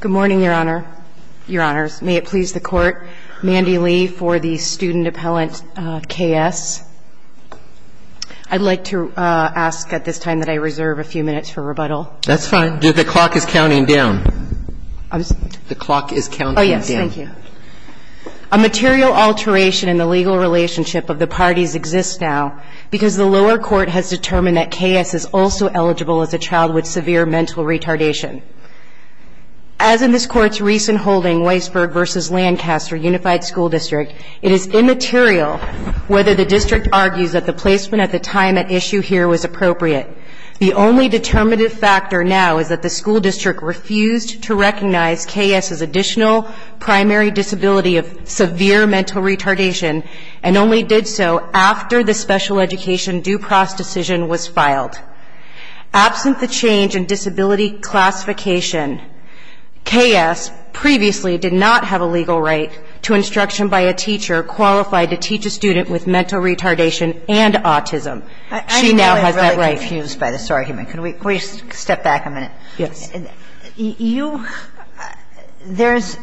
Good morning, Your Honor, Your Honors. May it please the Court, Mandy Lee for the student appellant K.S. I'd like to ask at this time that I reserve a few minutes for rebuttal. That's fine. The clock is counting down. The clock is counting down. Oh, yes. Thank you. A material alteration in the legal relationship of the parties exists now because the lower court has determined that K.S. is also eligible as a child with severe mental retardation. As in this Court's recent holding, Weisberg v. Lancaster Unified School District, it is immaterial whether the district argues that the placement at the time at issue here was appropriate. The only determinative factor now is that the school district refused to recognize K.S.'s additional primary disability of severe mental retardation and only did so after the special education due process decision was filed. Absent the change in disability classification, K.S. previously did not have a legal right to instruction by a teacher qualified to teach a student with mental retardation and autism. She now has that right. I'm really confused by this argument. Can we step back a minute? Yes. And you, there's,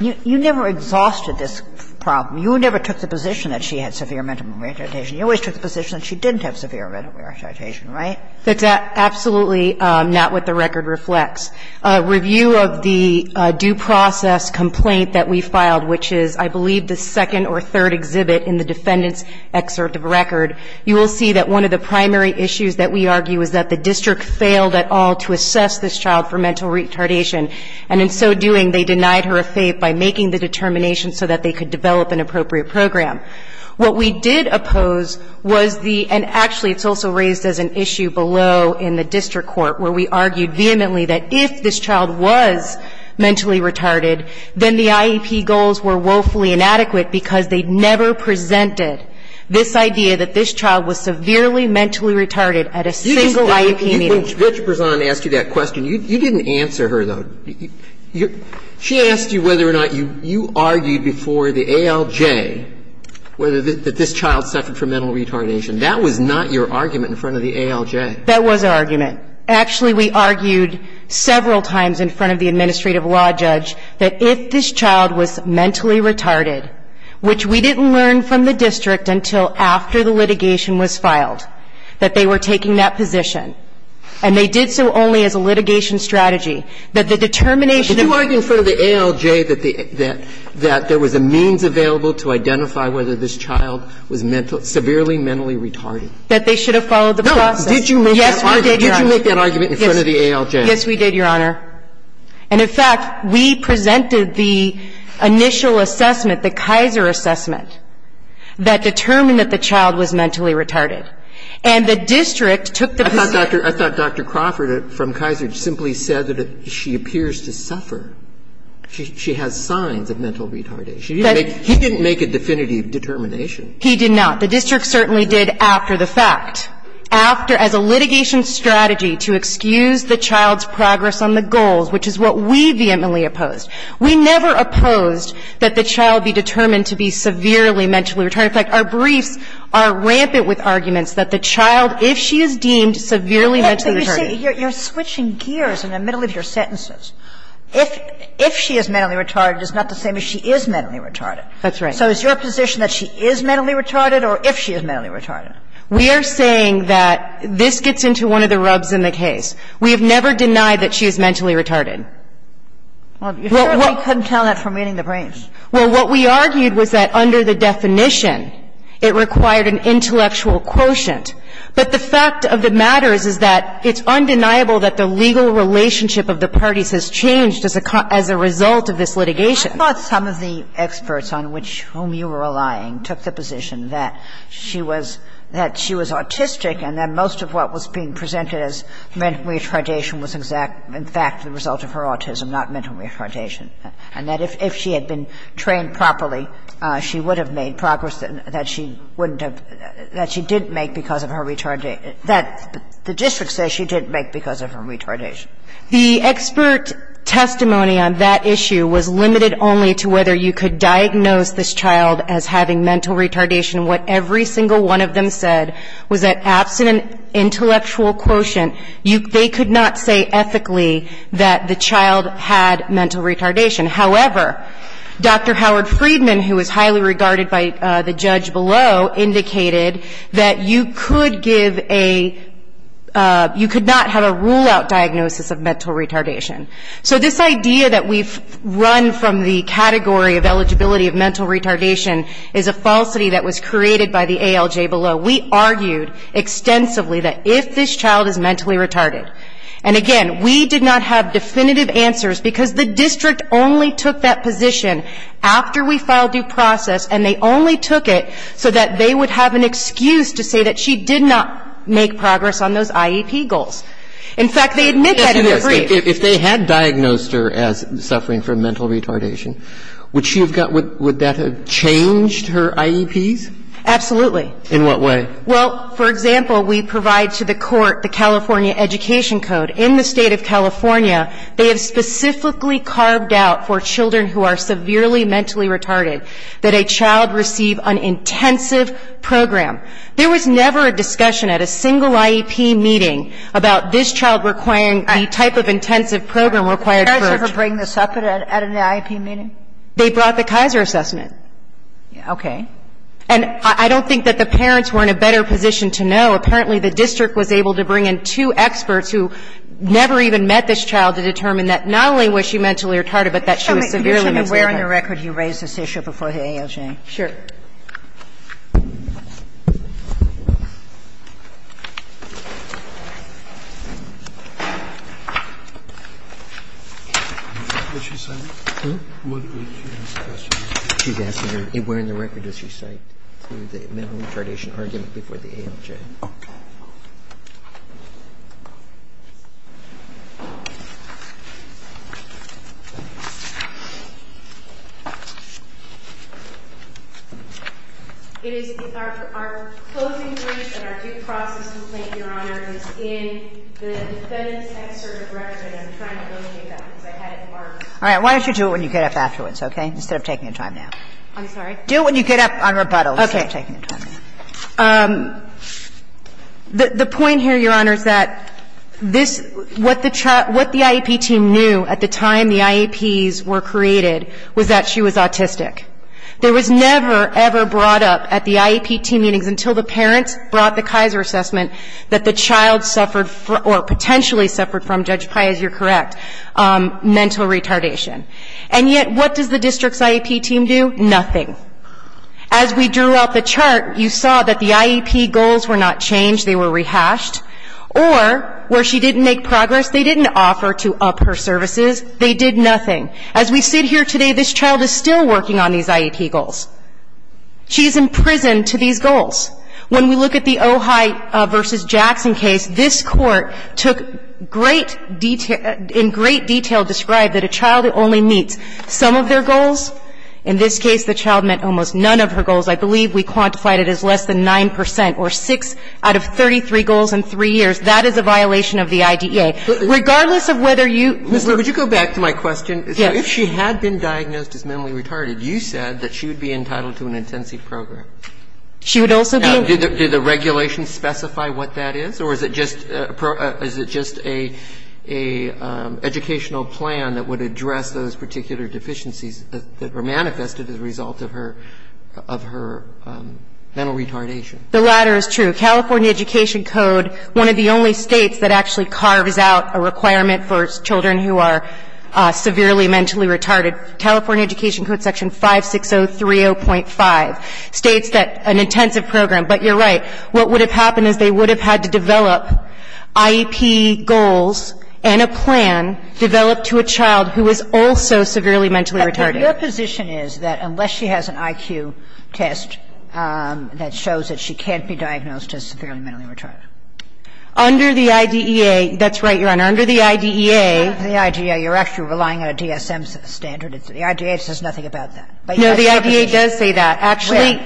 you never exhausted this problem. You never took the position that she had severe mental retardation. You always took the position that she didn't have severe mental retardation, right? That's absolutely not what the record reflects. A review of the due process complaint that we filed, which is, I believe, the second or third exhibit in the defendant's excerpt of record, you will see that one of the to assess this child for mental retardation, and in so doing, they denied her a FAPE by making the determination so that they could develop an appropriate program. What we did oppose was the, and actually, it's also raised as an issue below in the district court, where we argued vehemently that if this child was mentally retarded, then the IEP goals were woefully inadequate because they never presented this idea that this child was severely mentally retarded at a single IEP meeting. When Judge Betjepersan asked you that question, you didn't answer her, though. She asked you whether or not you argued before the ALJ that this child suffered from mental retardation. That was not your argument in front of the ALJ. That was our argument. Actually, we argued several times in front of the administrative law judge that if this child was mentally retarded, which we didn't learn from the district until after the litigation was filed, that they were taking that position, and they did so only as a litigation strategy, that the determination of the ALJ. Did you argue in front of the ALJ that there was a means available to identify whether this child was severely mentally retarded? That they should have followed the process. No. Did you make that argument in front of the ALJ? Yes, we did, Your Honor. And, in fact, we presented the initial assessment, the Kaiser assessment, that determined that the child was mentally retarded. And the district took the position. I thought Dr. Crawford from Kaiser simply said that she appears to suffer. She has signs of mental retardation. He didn't make a definitive determination. He did not. The district certainly did after the fact, after, as a litigation strategy to excuse the child's progress on the goals, which is what we vehemently opposed. We never opposed that the child be determined to be severely mentally retarded. In fact, our briefs are rampant with arguments that the child, if she is deemed severely mentally retarded. You're switching gears in the middle of your sentences. If she is mentally retarded, it's not the same as she is mentally retarded. That's right. So is your position that she is mentally retarded, or if she is mentally retarded? We are saying that this gets into one of the rubs in the case. We have never denied that she is mentally retarded. Well, you certainly couldn't tell that from reading the briefs. Well, what we argued was that under the definition, it required an intellectual quotient. But the fact of the matter is, is that it's undeniable that the legal relationship of the parties has changed as a result of this litigation. I thought some of the experts on which you were relying took the position that she was, that she was autistic, and that most of what was being presented as mental retardation was exact, in fact, the result of her autism, not mental retardation. And that if she had been trained properly, she would have made progress that she wouldn't have, that she didn't make because of her retardation, that the district says she didn't make because of her retardation. The expert testimony on that issue was limited only to whether you could diagnose this child as having mental retardation. What every single one of them said was that absent an intellectual quotient, they could not say ethically that the child had mental retardation. However, Dr. Howard Friedman, who was highly regarded by the judge below, indicated that you could give a, you could not have a rule-out diagnosis of mental retardation. So this idea that we've run from the category of eligibility of mental retardation is a falsity that was created by the ALJ below. We argued extensively that if this child is mentally retarded, and again, we did not have definitive answers because the district only took that position after we filed due process, and they only took it so that they would have an excuse to say that she did not make progress on those IEP goals. In fact, they admitted that in the brief. If they had diagnosed her as suffering from mental retardation, would she have got, would that have changed her IEPs? Absolutely. In what way? Well, for example, we provide to the court the California Education Code. In the state of California, they have specifically carved out for children who are severely mentally retarded, that a child receive an intensive program. There was never a discussion at a single IEP meeting about this child requiring the type of intensive program required for it. Did the parents ever bring this up at an IEP meeting? They brought the Kaiser assessment. Okay. And I don't think that the parents were in a better position to know. Apparently, the district was able to bring in two experts who never even met this child to determine that not only was she mentally retarded, but that she was severely mentally retarded. So, Ms. Newman, where in the record do you raise this issue before the ALJ? Sure. Did she say that? She's asking where in the record does she raise this issue. She's asking where in the record does she cite the mental retardation argument before the ALJ. Okay. It is our closing point and our due process complaint, Your Honor, is in the defendant's excerpt of record, and I'm trying to locate that because I had it marked. Why don't you do it when you get up afterwards, okay, instead of taking your time I'm sorry? Do it when you get up on rebuttal instead of taking your time. Okay. The point here, Your Honor, is that this – what the IEP team knew at the time the IEPs were created was that she was autistic. There was never, ever brought up at the IEP team meetings until the parents brought the Kaiser assessment that the child suffered – or potentially suffered from, Judge Pai, as you're correct, mental retardation. And yet, what does the district's IEP team do? Nothing. As we drew out the chart, you saw that the IEP goals were not changed. They were rehashed. Or, where she didn't make progress, they didn't offer to up her services. They did nothing. As we sit here today, this child is still working on these IEP goals. She's imprisoned to these goals. When we look at the Ojai v. Jackson case, this court took great – in great detail described that a child only meets some of their goals. In this case, the child met almost none of her goals. I believe we quantified it as less than 9 percent, or 6 out of 33 goals in 3 years. That is a violation of the IDEA. Regardless of whether you – Mr. – would you go back to my question? Yes. If she had been diagnosed as mentally retarded, you said that she would be entitled to an intensive program. She would also be – Now, did the regulation specify what that is? Or is it just – is it just a – a educational plan that would address those particular deficiencies that were manifested as a result of her – of her mental retardation? The latter is true. California Education Code, one of the only States that actually carves out a requirement for children who are severely mentally retarded, California Education Code, Section 56030.5, states that an intensive program – but you're right. What would have happened is they would have had to develop IEP goals and a plan developed to a child who is also severely mentally retarded. But their position is that unless she has an IQ test that shows that she can't be diagnosed as severely mentally retarded. Under the IDEA – that's right, Your Honor. Under the IDEA – Under the IDEA, you're actually relying on a DSM standard. The IDEA says nothing about that. But you have some position. No, the IDEA does say that. Actually,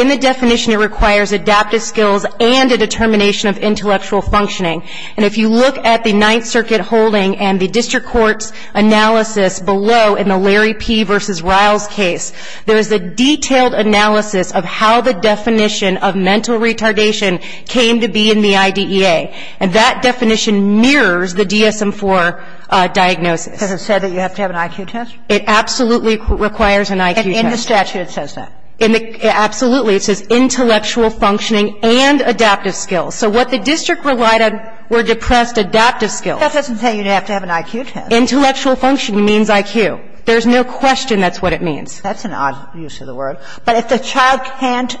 in the definition, it requires adaptive skills and a determination of intellectual functioning. And if you look at the Ninth Circuit holding and the district court's analysis below in the Larry P. v. Riles case, there is a detailed analysis of how the definition of mental retardation came to be in the IDEA. And that definition mirrors the DSM-IV diagnosis. Does it say that you have to have an IQ test? It absolutely requires an IQ test. In the statute, it says that. In the – absolutely. It says intellectual functioning and adaptive skills. So what the district relied on were depressed adaptive skills. That doesn't say you have to have an IQ test. Intellectual functioning means IQ. There's no question that's what it means. That's an odd use of the word. But if the child can't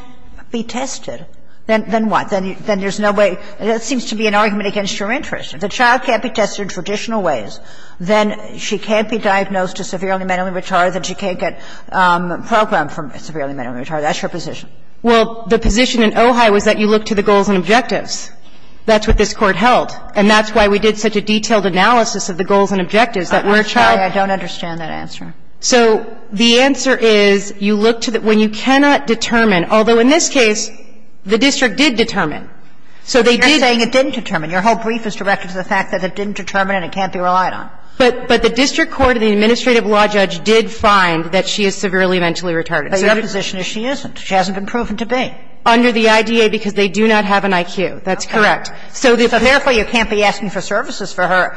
be tested, then what? Then there's no way – there seems to be an argument against your interest. If the child can't be tested in traditional ways, then she can't be diagnosed as severely mentally retarded, then she can't get programmed for severely mentally retarded. That's your position. Well, the position in Ojai was that you look to the goals and objectives. That's what this Court held. And that's why we did such a detailed analysis of the goals and objectives that where a child – I don't understand that answer. So the answer is you look to the – when you cannot determine, although in this case, the district did determine. So they did – But you're saying it didn't determine. Your whole brief is directed to the fact that it didn't determine and it can't be relied on. But the district court and the administrative law judge did find that she is severely mentally retarded. But your position is she isn't. She hasn't been proven to be. Under the IDEA, because they do not have an IQ. That's correct. So the – So therefore, you can't be asking for services for her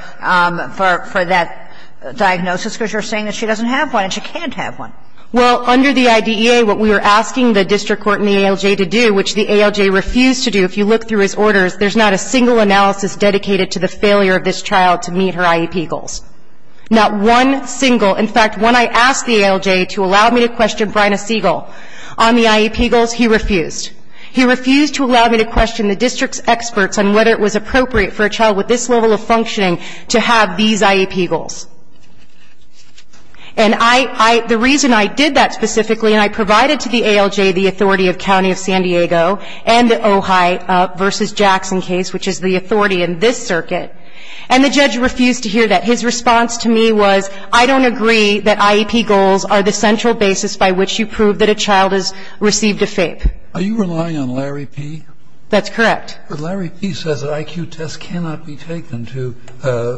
for that diagnosis, because you're saying that she doesn't have one and she can't have one. Well, under the IDEA, what we were asking the district court and the ALJ to do, which the ALJ refused to do, if you look through his orders, there's not a single analysis dedicated to the failure of this child to meet her IEP goals. Not one single. In fact, when I asked the ALJ to allow me to question Bryna Siegel on the IEP goals, he refused. He refused to allow me to question the district's experts on whether it was appropriate for a child with this level of functioning to have these IEP goals. And I – The reason I did that specifically, and I provided to the ALJ the authority of County of San Diego and the Ojai v. Jackson case, which is the authority in this circuit, and the judge refused to hear that. His response to me was, I don't agree that IEP goals are the central basis by which you prove that a child has received a FAPE. Are you relying on Larry P.? That's correct. But Larry P. says that IQ tests cannot be taken to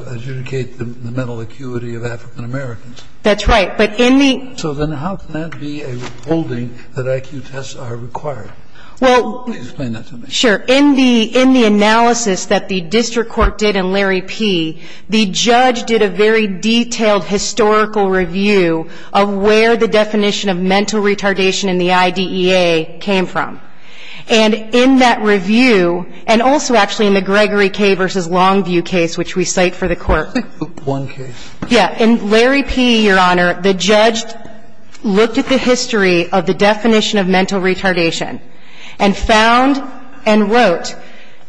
adjudicate the mental acuity of African Americans. That's right. But in the – So then how can that be a holding that IQ tests are required? Well – Please explain that to me. Sure. In the – in the analysis that the district court did in Larry P., the judge did a very detailed historical review of where the definition of mental retardation in the IDEA came from. And in that review, and also actually in the Gregory K. v. Longview case, which we cite for the court – One case. Yeah. In Larry P., Your Honor, the judge looked at the history of the definition of mental retardation and wrote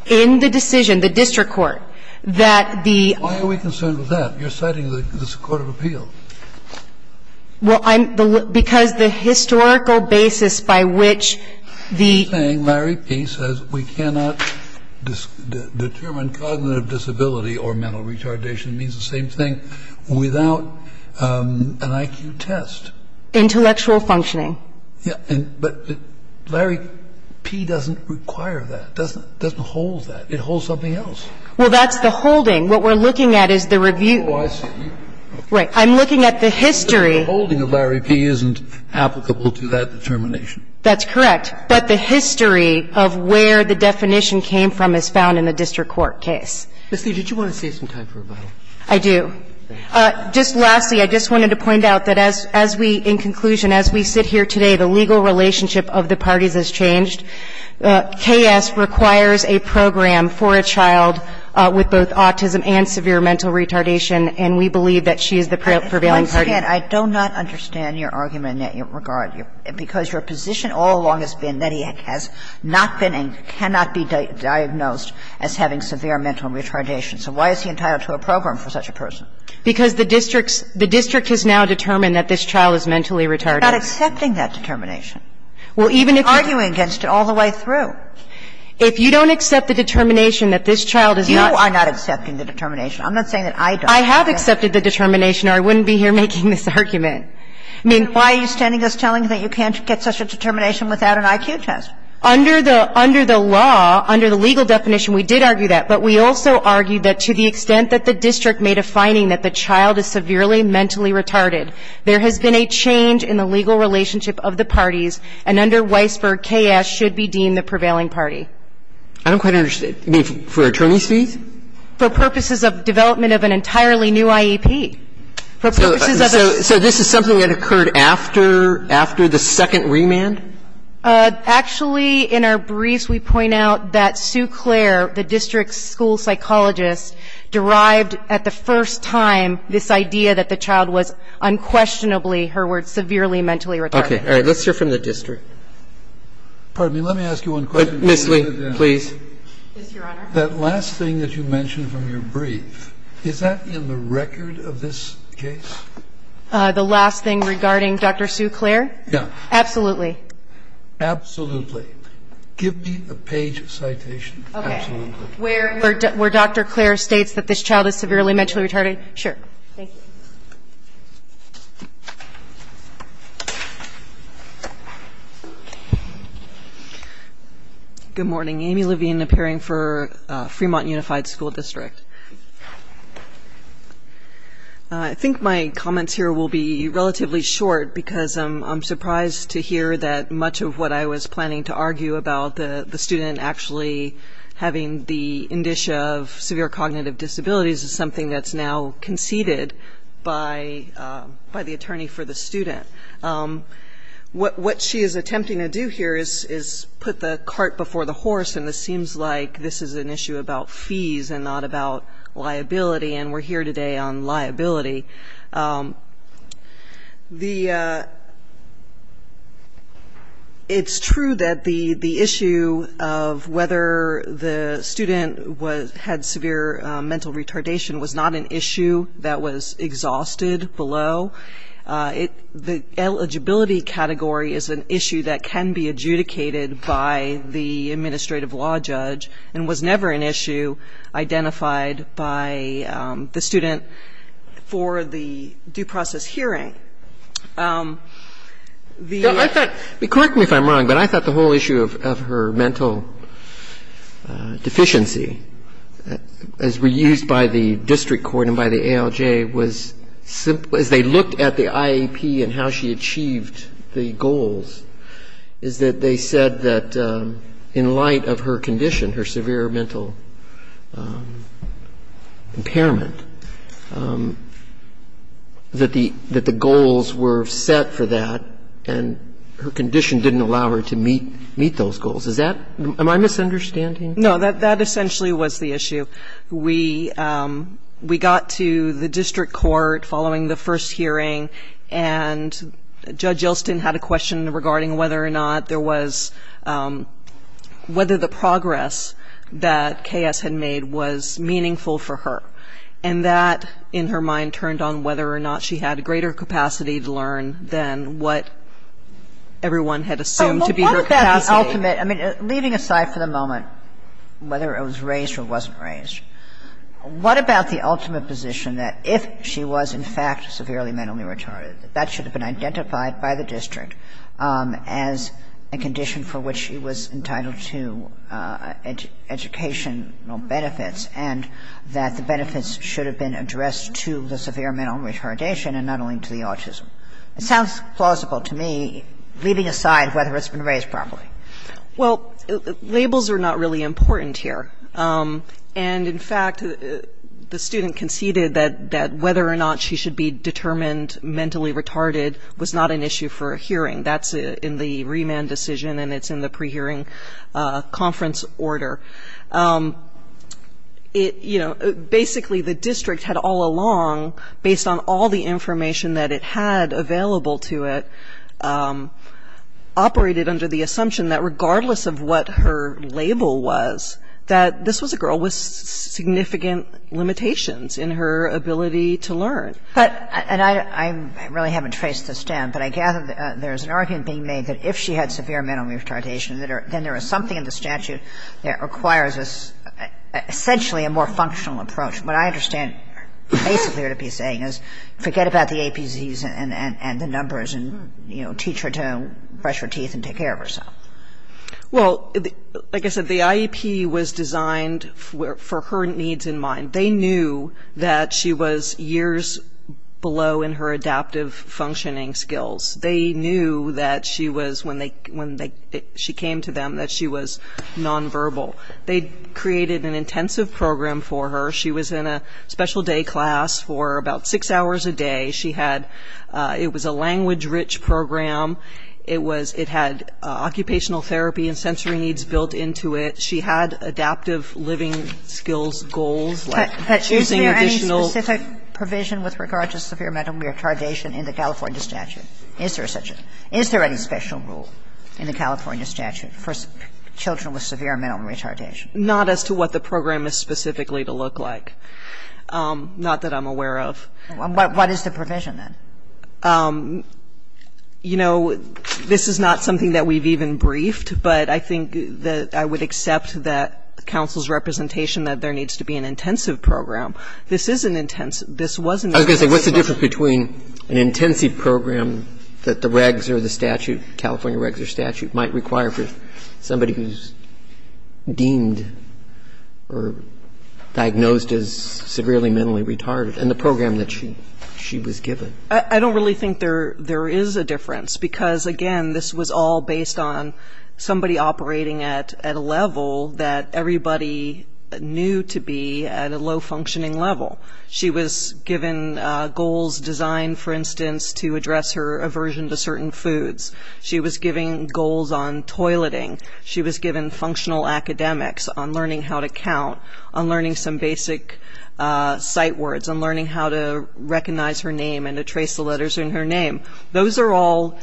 in the decision, the district court, that the – Why are we concerned with that? You're citing the court of appeal. Well, I'm – because the historical basis by which the – I'm saying Larry P. says we cannot determine cognitive disability or mental retardation. It means the same thing without an IQ test. Intellectual functioning. But Larry P. doesn't require that, doesn't – doesn't hold that. It holds something else. Well, that's the holding. What we're looking at is the review. Oh, I see. Right. I'm looking at the history. But the holding of Larry P. isn't applicable to that determination. That's correct. But the history of where the definition came from is found in the district court case. Ms. Lee, did you want to save some time for rebuttal? I do. Just lastly, I just wanted to point out that as we – in conclusion, as we sit here today, the legal relationship of the parties has changed. K.S. requires a program for a child with both autism and severe mental retardation, and we believe that she is the prevailing party. Once again, I do not understand your argument in that regard, because your position all along has been that he has not been and cannot be diagnosed as having severe mental retardation. So why is he entitled to a program for such a person? Because the district's – the district has now determined that this child is mentally retarded. I'm not accepting that determination. Well, even if you're – I'm arguing against it all the way through. If you don't accept the determination that this child is not – You are not accepting the determination. I'm not saying that I don't. I have accepted the determination, or I wouldn't be here making this argument. I mean, why are you standing us telling that you can't get such a determination without an IQ test? Under the – under the law, under the legal definition, we did argue that. But we also argued that to the extent that the district may defining that the child is severely mentally retarded, there has been a change in the legal relationship of the parties, and under Weisberg, K.S. should be deemed the prevailing party. I don't quite understand. You mean for attorney's fees? For purposes of development of an entirely new IEP. For purposes of a – So this is something that occurred after – after the second remand? Actually, in our briefs, we point out that Sue Clare, the district's school psychologist, derived at the first time this idea that the child was unquestionably, her words, severely mentally retarded. Okay. All right. Let's hear from the district. Pardon me. Let me ask you one question. Ms. Lee, please. Yes, Your Honor. That last thing that you mentioned from your brief, is that in the record of this case? The last thing regarding Dr. Sue Clare? Yeah. Absolutely. Absolutely. Give me a page of citation. Okay. Absolutely. Where Dr. Clare states that this child is severely mentally retarded? Sure. Thank you. Good morning. Amy Levine, appearing for Fremont Unified School District. I think my comments here will be relatively short because I'm surprised to hear that much of what I was planning to argue about the student actually having the indicia of severe cognitive disabilities is something that's now conceded by the attorney for the student. What she is attempting to do here is put the cart before the horse, and this seems like this is an issue about fees and not about liability, and we're here today on liability. It's true that the issue of whether the student had severe mental retardation was not an issue that was exhausted below. The eligibility category is an issue that can be adjudicated by the administrative law judge and was never an issue identified by the student for the due process hearing. Correct me if I'm wrong, but I thought the whole issue of her mental deficiency as reused by the district court and by the ALJ was as they looked at the IAP and how she achieved the goals is that they said that in light of her condition, her severe mental impairment, that the goals were set for that and her condition didn't allow her to meet those goals. Is that my misunderstanding? No. That essentially was the issue. We got to the district court following the first hearing, and Judge Yelston had a question regarding whether or not there was ‑‑ whether the progress that K.S. had made was meaningful for her, and that, in her mind, turned on whether or not she had greater capacity to learn than what everyone had assumed to be her capacity. I mean, leaving aside for the moment whether it was raised or wasn't raised, what about the ultimate position that if she was, in fact, severely mentally retarded, that that should have been identified by the district as a condition for which she was entitled to educational benefits and that the benefits should have been addressed to the severe mental retardation and not only to the autism? It sounds plausible to me, leaving aside whether it's been raised properly. Well, labels are not really important here. And, in fact, the student conceded that whether or not she should be determined mentally retarded was not an issue for a hearing. That's in the remand decision, and it's in the prehearing conference order. It, you know, basically the district had all along, based on all the information that it had available to it, operated under the assumption that regardless of what her label was, that this was a girl with significant limitations in her ability to learn. But, and I really haven't traced this down, but I gather there's an argument being made that if she had severe mental retardation, then there is something in the statute that requires essentially a more functional approach. What I understand basically what you're saying is forget about the APDs and the numbers and, you know, teach her to brush her teeth and take care of herself. Well, like I said, the IEP was designed for her needs in mind. They knew that she was years below in her adaptive functioning skills. They knew that she was, when she came to them, that she was nonverbal. They created an intensive program for her. She was in a special day class for about six hours a day. She had ‑‑ it was a language-rich program. It was ‑‑ it had occupational therapy and sensory needs built into it. She had adaptive living skills goals like using additional ‑‑ But is there any specific provision with regard to severe mental retardation in the California statute? Is there such a ‑‑ is there any special rule in the California statute for children with severe mental retardation? Not as to what the program is specifically to look like. Not that I'm aware of. What is the provision, then? You know, this is not something that we've even briefed, but I think that I would accept that counsel's representation that there needs to be an intensive program. This is an intensive ‑‑ this was an intensive program. I was going to say, what's the difference between an intensive program that the regs or the statute, California regs or statute, might require for somebody who's deemed or diagnosed as severely mentally retarded and the program that she was given? I don't really think there is a difference because, again, this was all based on somebody operating at a level that everybody knew to be at a low functioning level. She was given goals designed, for instance, to address her aversion to certain foods. She was given goals on toileting. She was given functional academics on learning how to count, on learning some basic sight words, on learning how to recognize her name and to trace the letters in her name. Those are all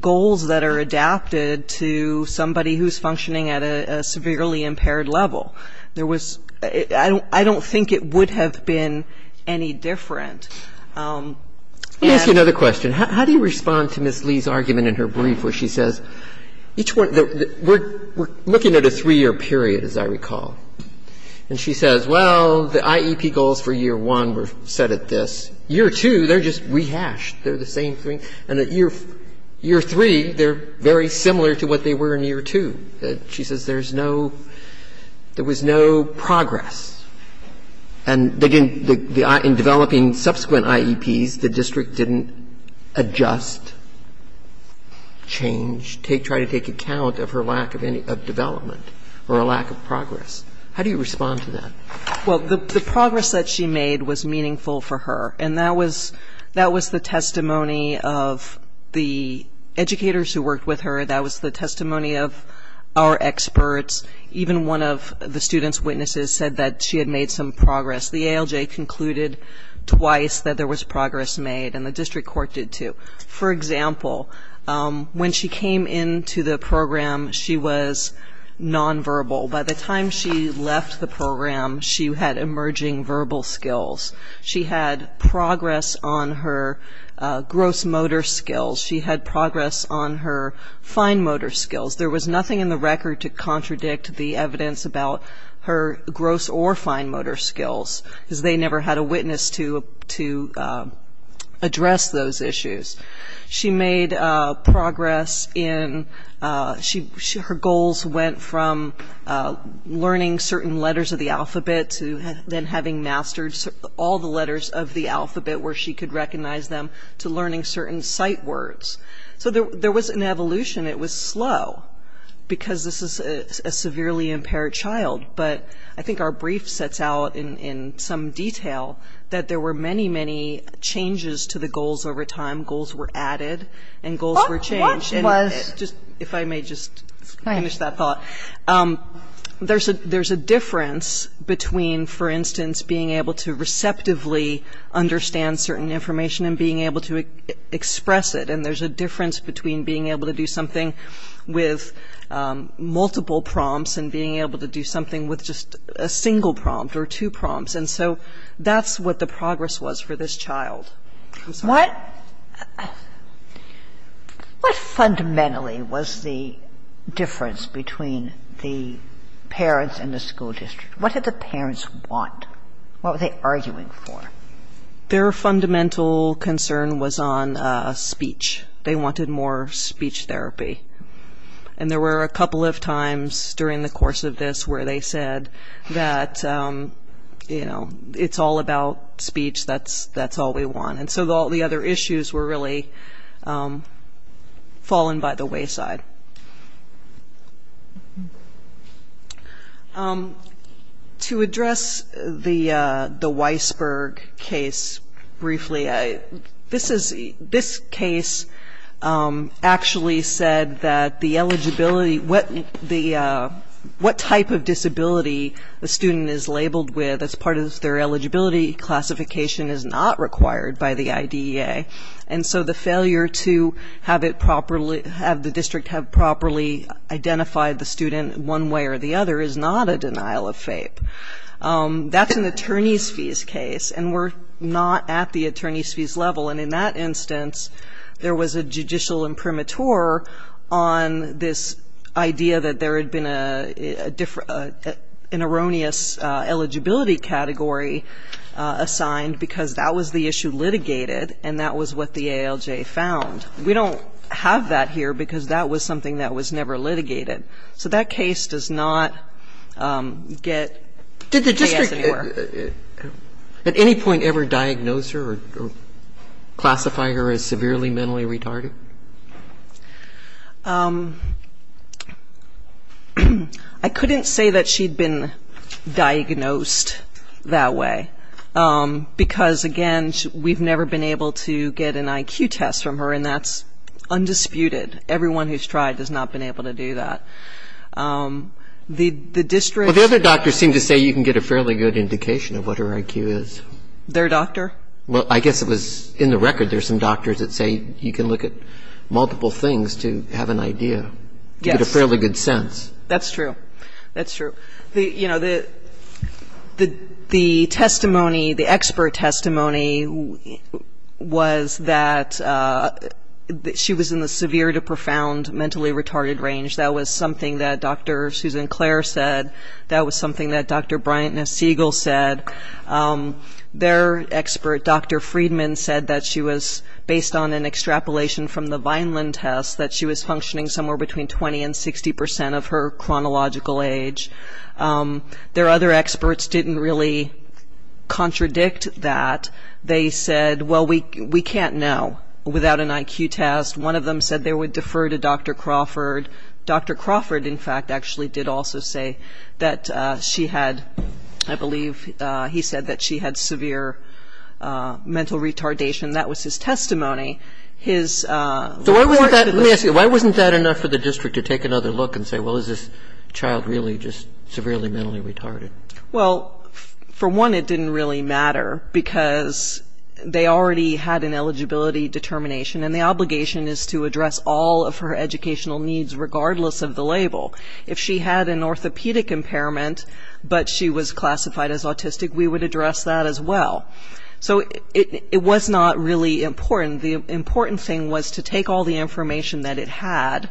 goals that are adapted to somebody who's functioning at a severely impaired level. There was ‑‑ I don't think it would have been any different. Let me ask you another question. How do you respond to Ms. Lee's argument in her brief where she says, each one ‑‑ we're looking at a three‑year period, as I recall. And she says, well, the IEP goals for year one were set at this. Year two, they're just rehashed. They're the same thing. And at year three, they're very similar to what they were in year two. She says there's no ‑‑ there was no progress. And in developing subsequent IEPs, the district didn't adjust, change, try to take account of her lack of development or a lack of progress. How do you respond to that? Well, the progress that she made was meaningful for her. And that was the testimony of the educators who worked with her. That was the testimony of our experts. Even one of the twice that there was progress made, and the district court did too. For example, when she came into the program, she was nonverbal. By the time she left the program, she had emerging verbal skills. She had progress on her gross motor skills. She had progress on her fine motor skills. There was nothing in the record to contradict the evidence about her gross or fine motor skills, because they never had a witness to address those issues. She made progress in ‑‑ her goals went from learning certain letters of the alphabet to then having mastered all the letters of the alphabet where she could recognize them to learning certain sight words. So there was an evolution. It was slow, because this is a severely impaired child. But I think our brief sets out in some detail that there were many, many changes to the goals over time. Goals were added, and goals were changed. What was? If I may just finish that thought. There's a difference between, for instance, being able to receptively understand certain information and being able to express it. And there's a difference between being able to do something with multiple prompts and being able to do something with just a single prompt or two prompts. And so that's what the progress was for this child. What fundamentally was the difference between the parents and the school district? What did the parents want? What were they arguing for? Their fundamental concern was on speech. They wanted more speech therapy. And there were a couple of times during the course of this where they said that, you know, it's all about speech, that's all we want. And so all the other issues were really fallen by the wayside. To address the Weisberg case briefly, this case actually said that the eligibility, what type of disability a student is labeled with as part of their eligibility classification is not required by the IDEA. And so the failure to have the district have properly identified the student one way or the other is not a denial of FAPE. That's an attorney's fees case and we're not at the attorney's fees level. And in that instance, there was a judicial imprimatur on this idea that there had been an erroneous eligibility category assigned because that was the issue litigated and that was what the ALJ found. We don't have that here because that was something that was never litigated. So that case does not get JS anywhere. Did the district at any point ever diagnose her or classify her as severely mentally retarded? I couldn't say that she'd been diagnosed that way because again, we've never been able to get an IQ test from her and that's undisputed. Everyone who's tried has not been able to do that. The district Well, the other doctors seem to say you can get a fairly good indication of what her IQ is. Their doctor? Well, I guess it was in the record there's some doctors that say you can look at multiple things to have an idea, to get a fairly good sense. That's true. That's true. The testimony, the expert testimony was that she was in the severe to profound mentally retarded range. That was something that Dr. Susan Clare said. That was something that Dr. Bryant and Siegel said. Their expert, Dr. Friedman said that she was based on an extrapolation from the Vineland test that she was functioning somewhere between 20 and 60% of her chronological age. Their other experts didn't really contradict that. They said, well, we can't know without an IQ test. One of them said they would defer to Dr. Crawford. Dr. Crawford, in fact, actually did also say that she had, I believe he said that she had severe mental retardation. That was his testimony. So why wasn't that, let me ask you, why wasn't that enough for the district to take another look and say, well, is this child really just severely mentally retarded? Well, for one, it didn't really matter because they already had an eligibility determination and the obligation is to address all of her educational needs regardless of the label. If she had an orthopedic impairment but she was classified as autistic, we would address that as well. So it was not really important. The important thing was to take all the information that it had,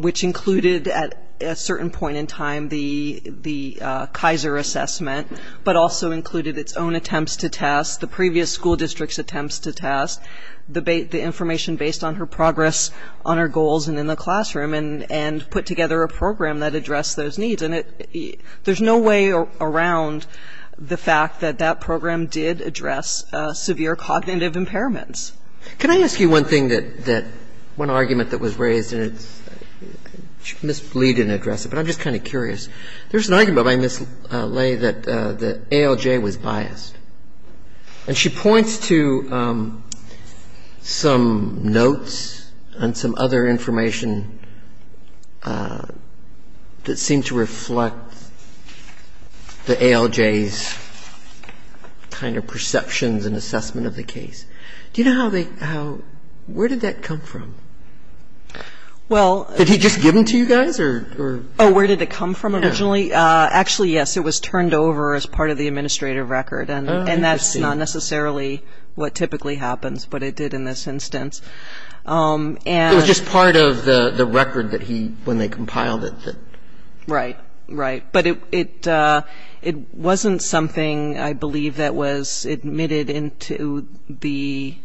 which included at a certain point in time the Kaiser assessment, but also included its own attempts to test, the previous school district's attempts to test, the information based on her progress on her goals and in the classroom, and put together a program that addressed those needs. And there's no way around the fact that that program did address severe cognitive impairments. Can I ask you one thing that, one argument that was raised, and Ms. Lee didn't address it, but I'm just kind of curious. There's an argument by Ms. Lee that ALJ was biased. And she points to some notes and some other information that seem to reflect the ALJ's kind of perceptions and assessment of the case. Do you know how they, how, where did that come from? Well. Did he just give them to you guys or? Oh, where did it come from originally? Actually, yes, it was turned over as part of the administrative record. Okay. And that's not necessarily what typically happens, but it did in this instance. It was just part of the record that he, when they compiled it. Right, right. But it wasn't something, I believe, that was admitted into the.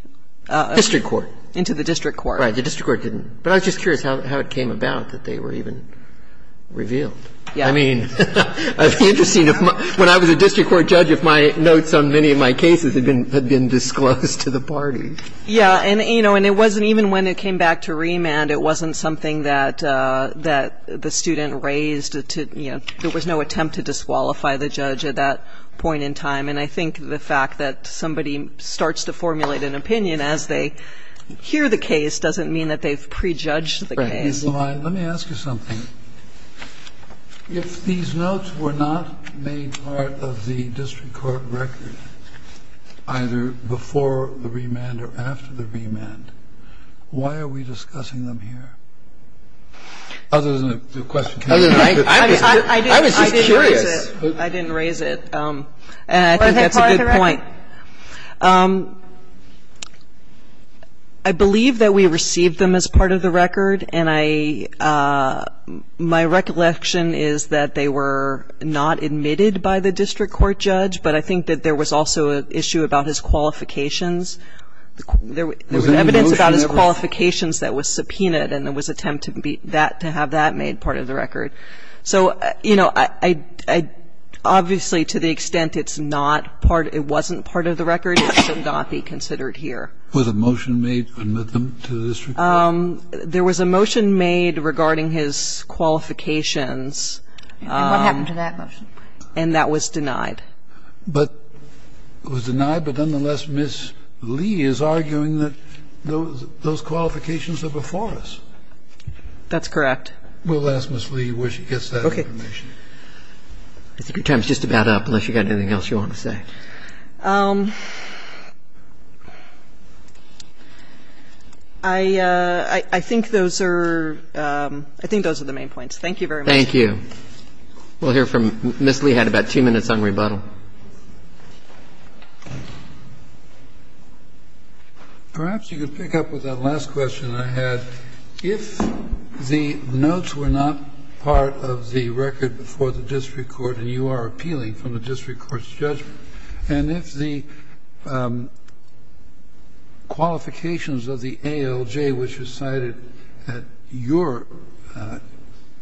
District court. Into the district court. Right, the district court didn't. But I was just curious how it came about that they were even revealed. Yeah. I mean, it would be interesting if, when I was a district court judge, if my notes on many of my cases had been disclosed to the party. Yeah. And, you know, and it wasn't even when it came back to remand, it wasn't something that the student raised to, you know, there was no attempt to disqualify the judge at that point in time. And I think the fact that somebody starts to formulate an opinion as they hear the case doesn't mean that they've prejudged the case. Okay. And so I, let me ask you something. If these notes were not made part of the district court record, either before the remand or after the remand, why are we discussing them here? Other than the question? I was just curious. I didn't raise it. And I think that's a good point. Yeah. I believe that we received them as part of the record. And I, my recollection is that they were not admitted by the district court judge, but I think that there was also an issue about his qualifications. There was evidence about his qualifications that was subpoenaed and there was attempt to have that made part of the record. So, you know, I obviously, to the extent it's not part, it wasn't part of the record, it should not be considered here. Was a motion made to admit them to the district court? There was a motion made regarding his qualifications. And what happened to that motion? And that was denied. But it was denied, but nonetheless, Ms. Lee is arguing that those qualifications are before us. We'll ask Ms. Lee where she gets that information. Okay. I think your time is just about up, unless you've got anything else you want to say. I think those are the main points. Thank you very much. Thank you. We'll hear from Ms. Lee. We had about two minutes on rebuttal. Perhaps you could pick up with that last question I had. If the notes were not part of the record before the district court and you are appealing from the district court's judgment, and if the qualifications of the ALJ, which was cited at your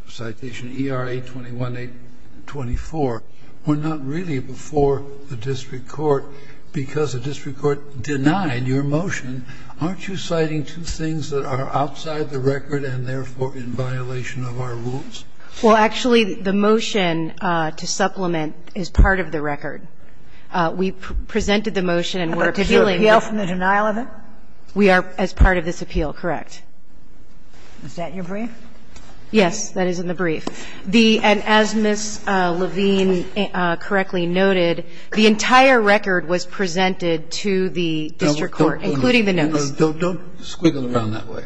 citation, ERA 821-824, were not really before the district court because the district court denied your motion, aren't you citing two things that are outside the record and therefore in violation of our rules? Well, actually, the motion to supplement is part of the record. We presented the motion and we're appealing. But did you appeal from the denial of it? We are, as part of this appeal, correct. Is that in your brief? Yes, that is in the brief. The — and as Ms. Levine correctly noted, the entire record was presented to the district court, including the notes. Don't squiggle around that way.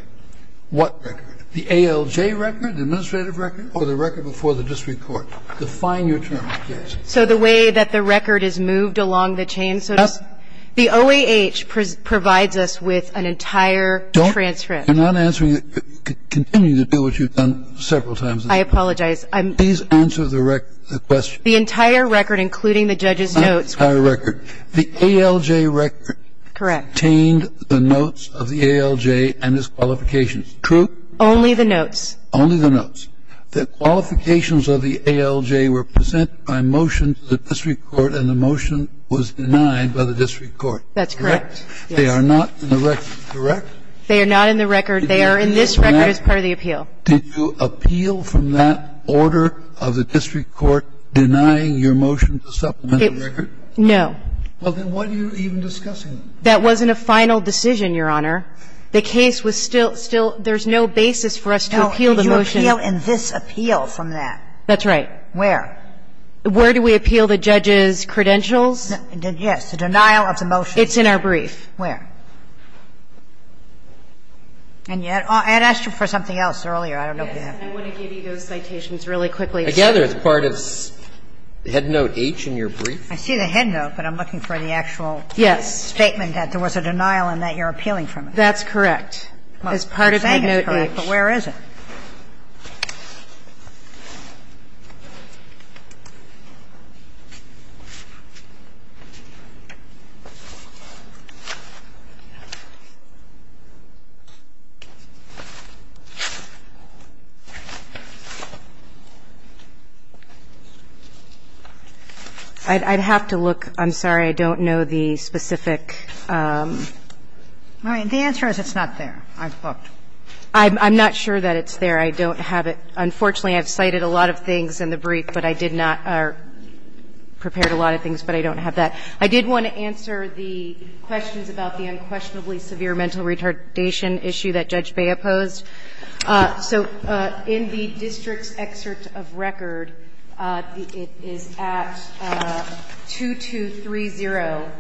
What record? The ALJ record, the administrative record? Oh, the record before the district court. Define your term, please. So the way that the record is moved along the chain, so to speak? The OAH provides us with an entire transcript. You're not answering — continuing to do what you've done several times. I apologize. Please answer the question. The entire record, including the judge's notes. The entire record. The ALJ record contained the notes of the ALJ and his qualifications, true? Only the notes. Only the notes. The qualifications of the ALJ were presented by motion to the district court, and the motion was denied by the district court. That's correct. They are not in the record, correct? They are not in the record. They are in this record as part of the appeal. Did you appeal from that order of the district court, denying your motion to supplement the record? No. Well, then what are you even discussing? That wasn't a final decision, Your Honor. The case was still — still — there's no basis for us to appeal the motion. But I'm asking you, where do we appeal in this appeal from that? That's right. Where? Where do we appeal the judge's credentials? Yes. The denial of the motion. It's in our brief. Where? And yet — I had asked you for something else earlier. I don't know if you have. I want to give you those citations really quickly. I gather it's part of head note H in your brief. I see the head note, but I'm looking for the actual statement that there was a denial in that you're appealing from it. That's correct. It's part of head note H. But where is it? I'd have to look. I'm sorry. I don't know the specific. The answer is it's not there. I've looked. I'm not sure that it's there. I don't have it. Unfortunately, I've cited a lot of things in the brief, but I did not — or prepared a lot of things, but I don't have that. I did want to answer the questions about the unquestionably severe mental retardation issue that Judge Bea posed. So in the district's excerpt of record, it is at 2230.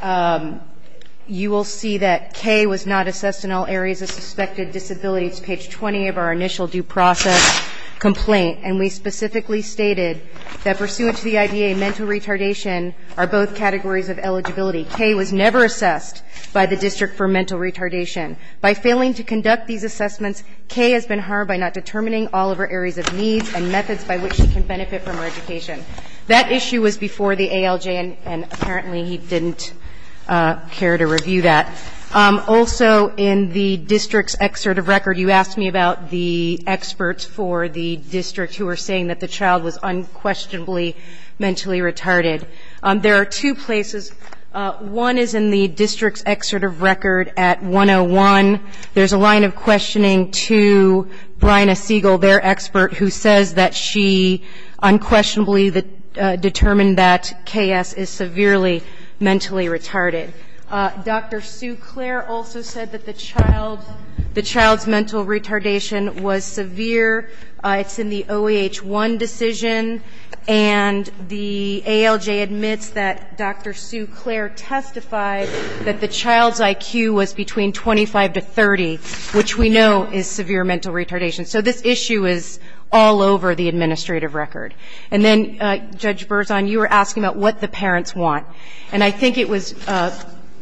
So you will see that K was not assessed in all areas of suspected disability. It's page 20 of our initial due process complaint. And we specifically stated that pursuant to the IDA, mental retardation are both categories of eligibility. K was never assessed by the district for mental retardation. By failing to conduct these assessments, K has been harmed by not determining all of her areas of needs and methods by which she can benefit from her education. That issue was before the ALJ, and apparently he didn't care to review that. Also in the district's excerpt of record, you asked me about the experts for the district who are saying that the child was unquestionably mentally retarded. There are two places. One is in the district's excerpt of record at 101. There's a line of questioning to Bryna Siegel, their expert, who says that she unquestionably determined that K.S. is severely mentally retarded. Dr. Suclair also said that the child's mental retardation was severe. It's in the OEH-1 decision. And the ALJ admits that Dr. Suclair testified that the child's IQ was between 25 to 30, which we know is severe mental retardation. So this issue is all over the administrative record. And then, Judge Berzon, you were asking about what the parents want. And I think it was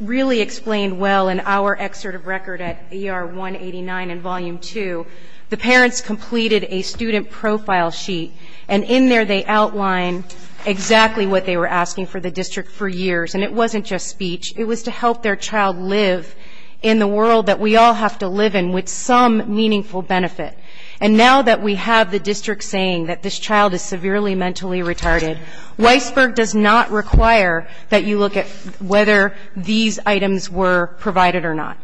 really explained well in our excerpt of record at ER-189 in Volume 2. The parents completed a student profile sheet, and in there they outlined exactly what they were asking for the district for years. And it wasn't just speech. It was to help their child live in the world that we all have to live in with some meaningful benefit. And now that we have the district saying that this child is severely mentally retarded, Weisberg does not require that you look at whether these items were provided or not,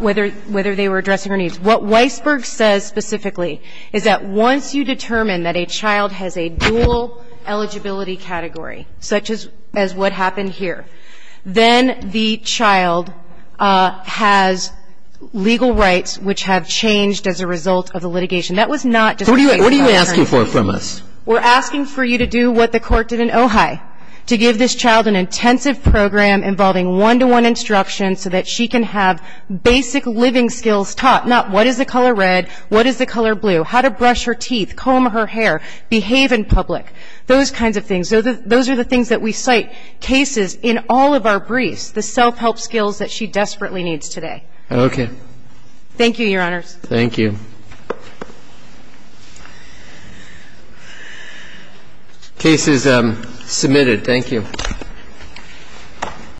whether they were addressing her needs. What Weisberg says specifically is that once you determine that a child has a dual eligibility category, such as what happened here, then the child has legal rights which have changed as a result of the litigation. That was not just a case of self-help. What are you asking for from us? We're asking for you to do what the court did in Ojai, to give this child an intensive program involving one-to-one instruction so that she can have basic living skills taught, not what is the color red, what is the color blue, how to brush her teeth, comb her hair, behave in public, those kinds of things. So those are the things that we cite cases in all of our briefs, the self-help skills that she desperately needs today. Okay. Thank you, Your Honors. Thank you. Case is submitted. Thank you.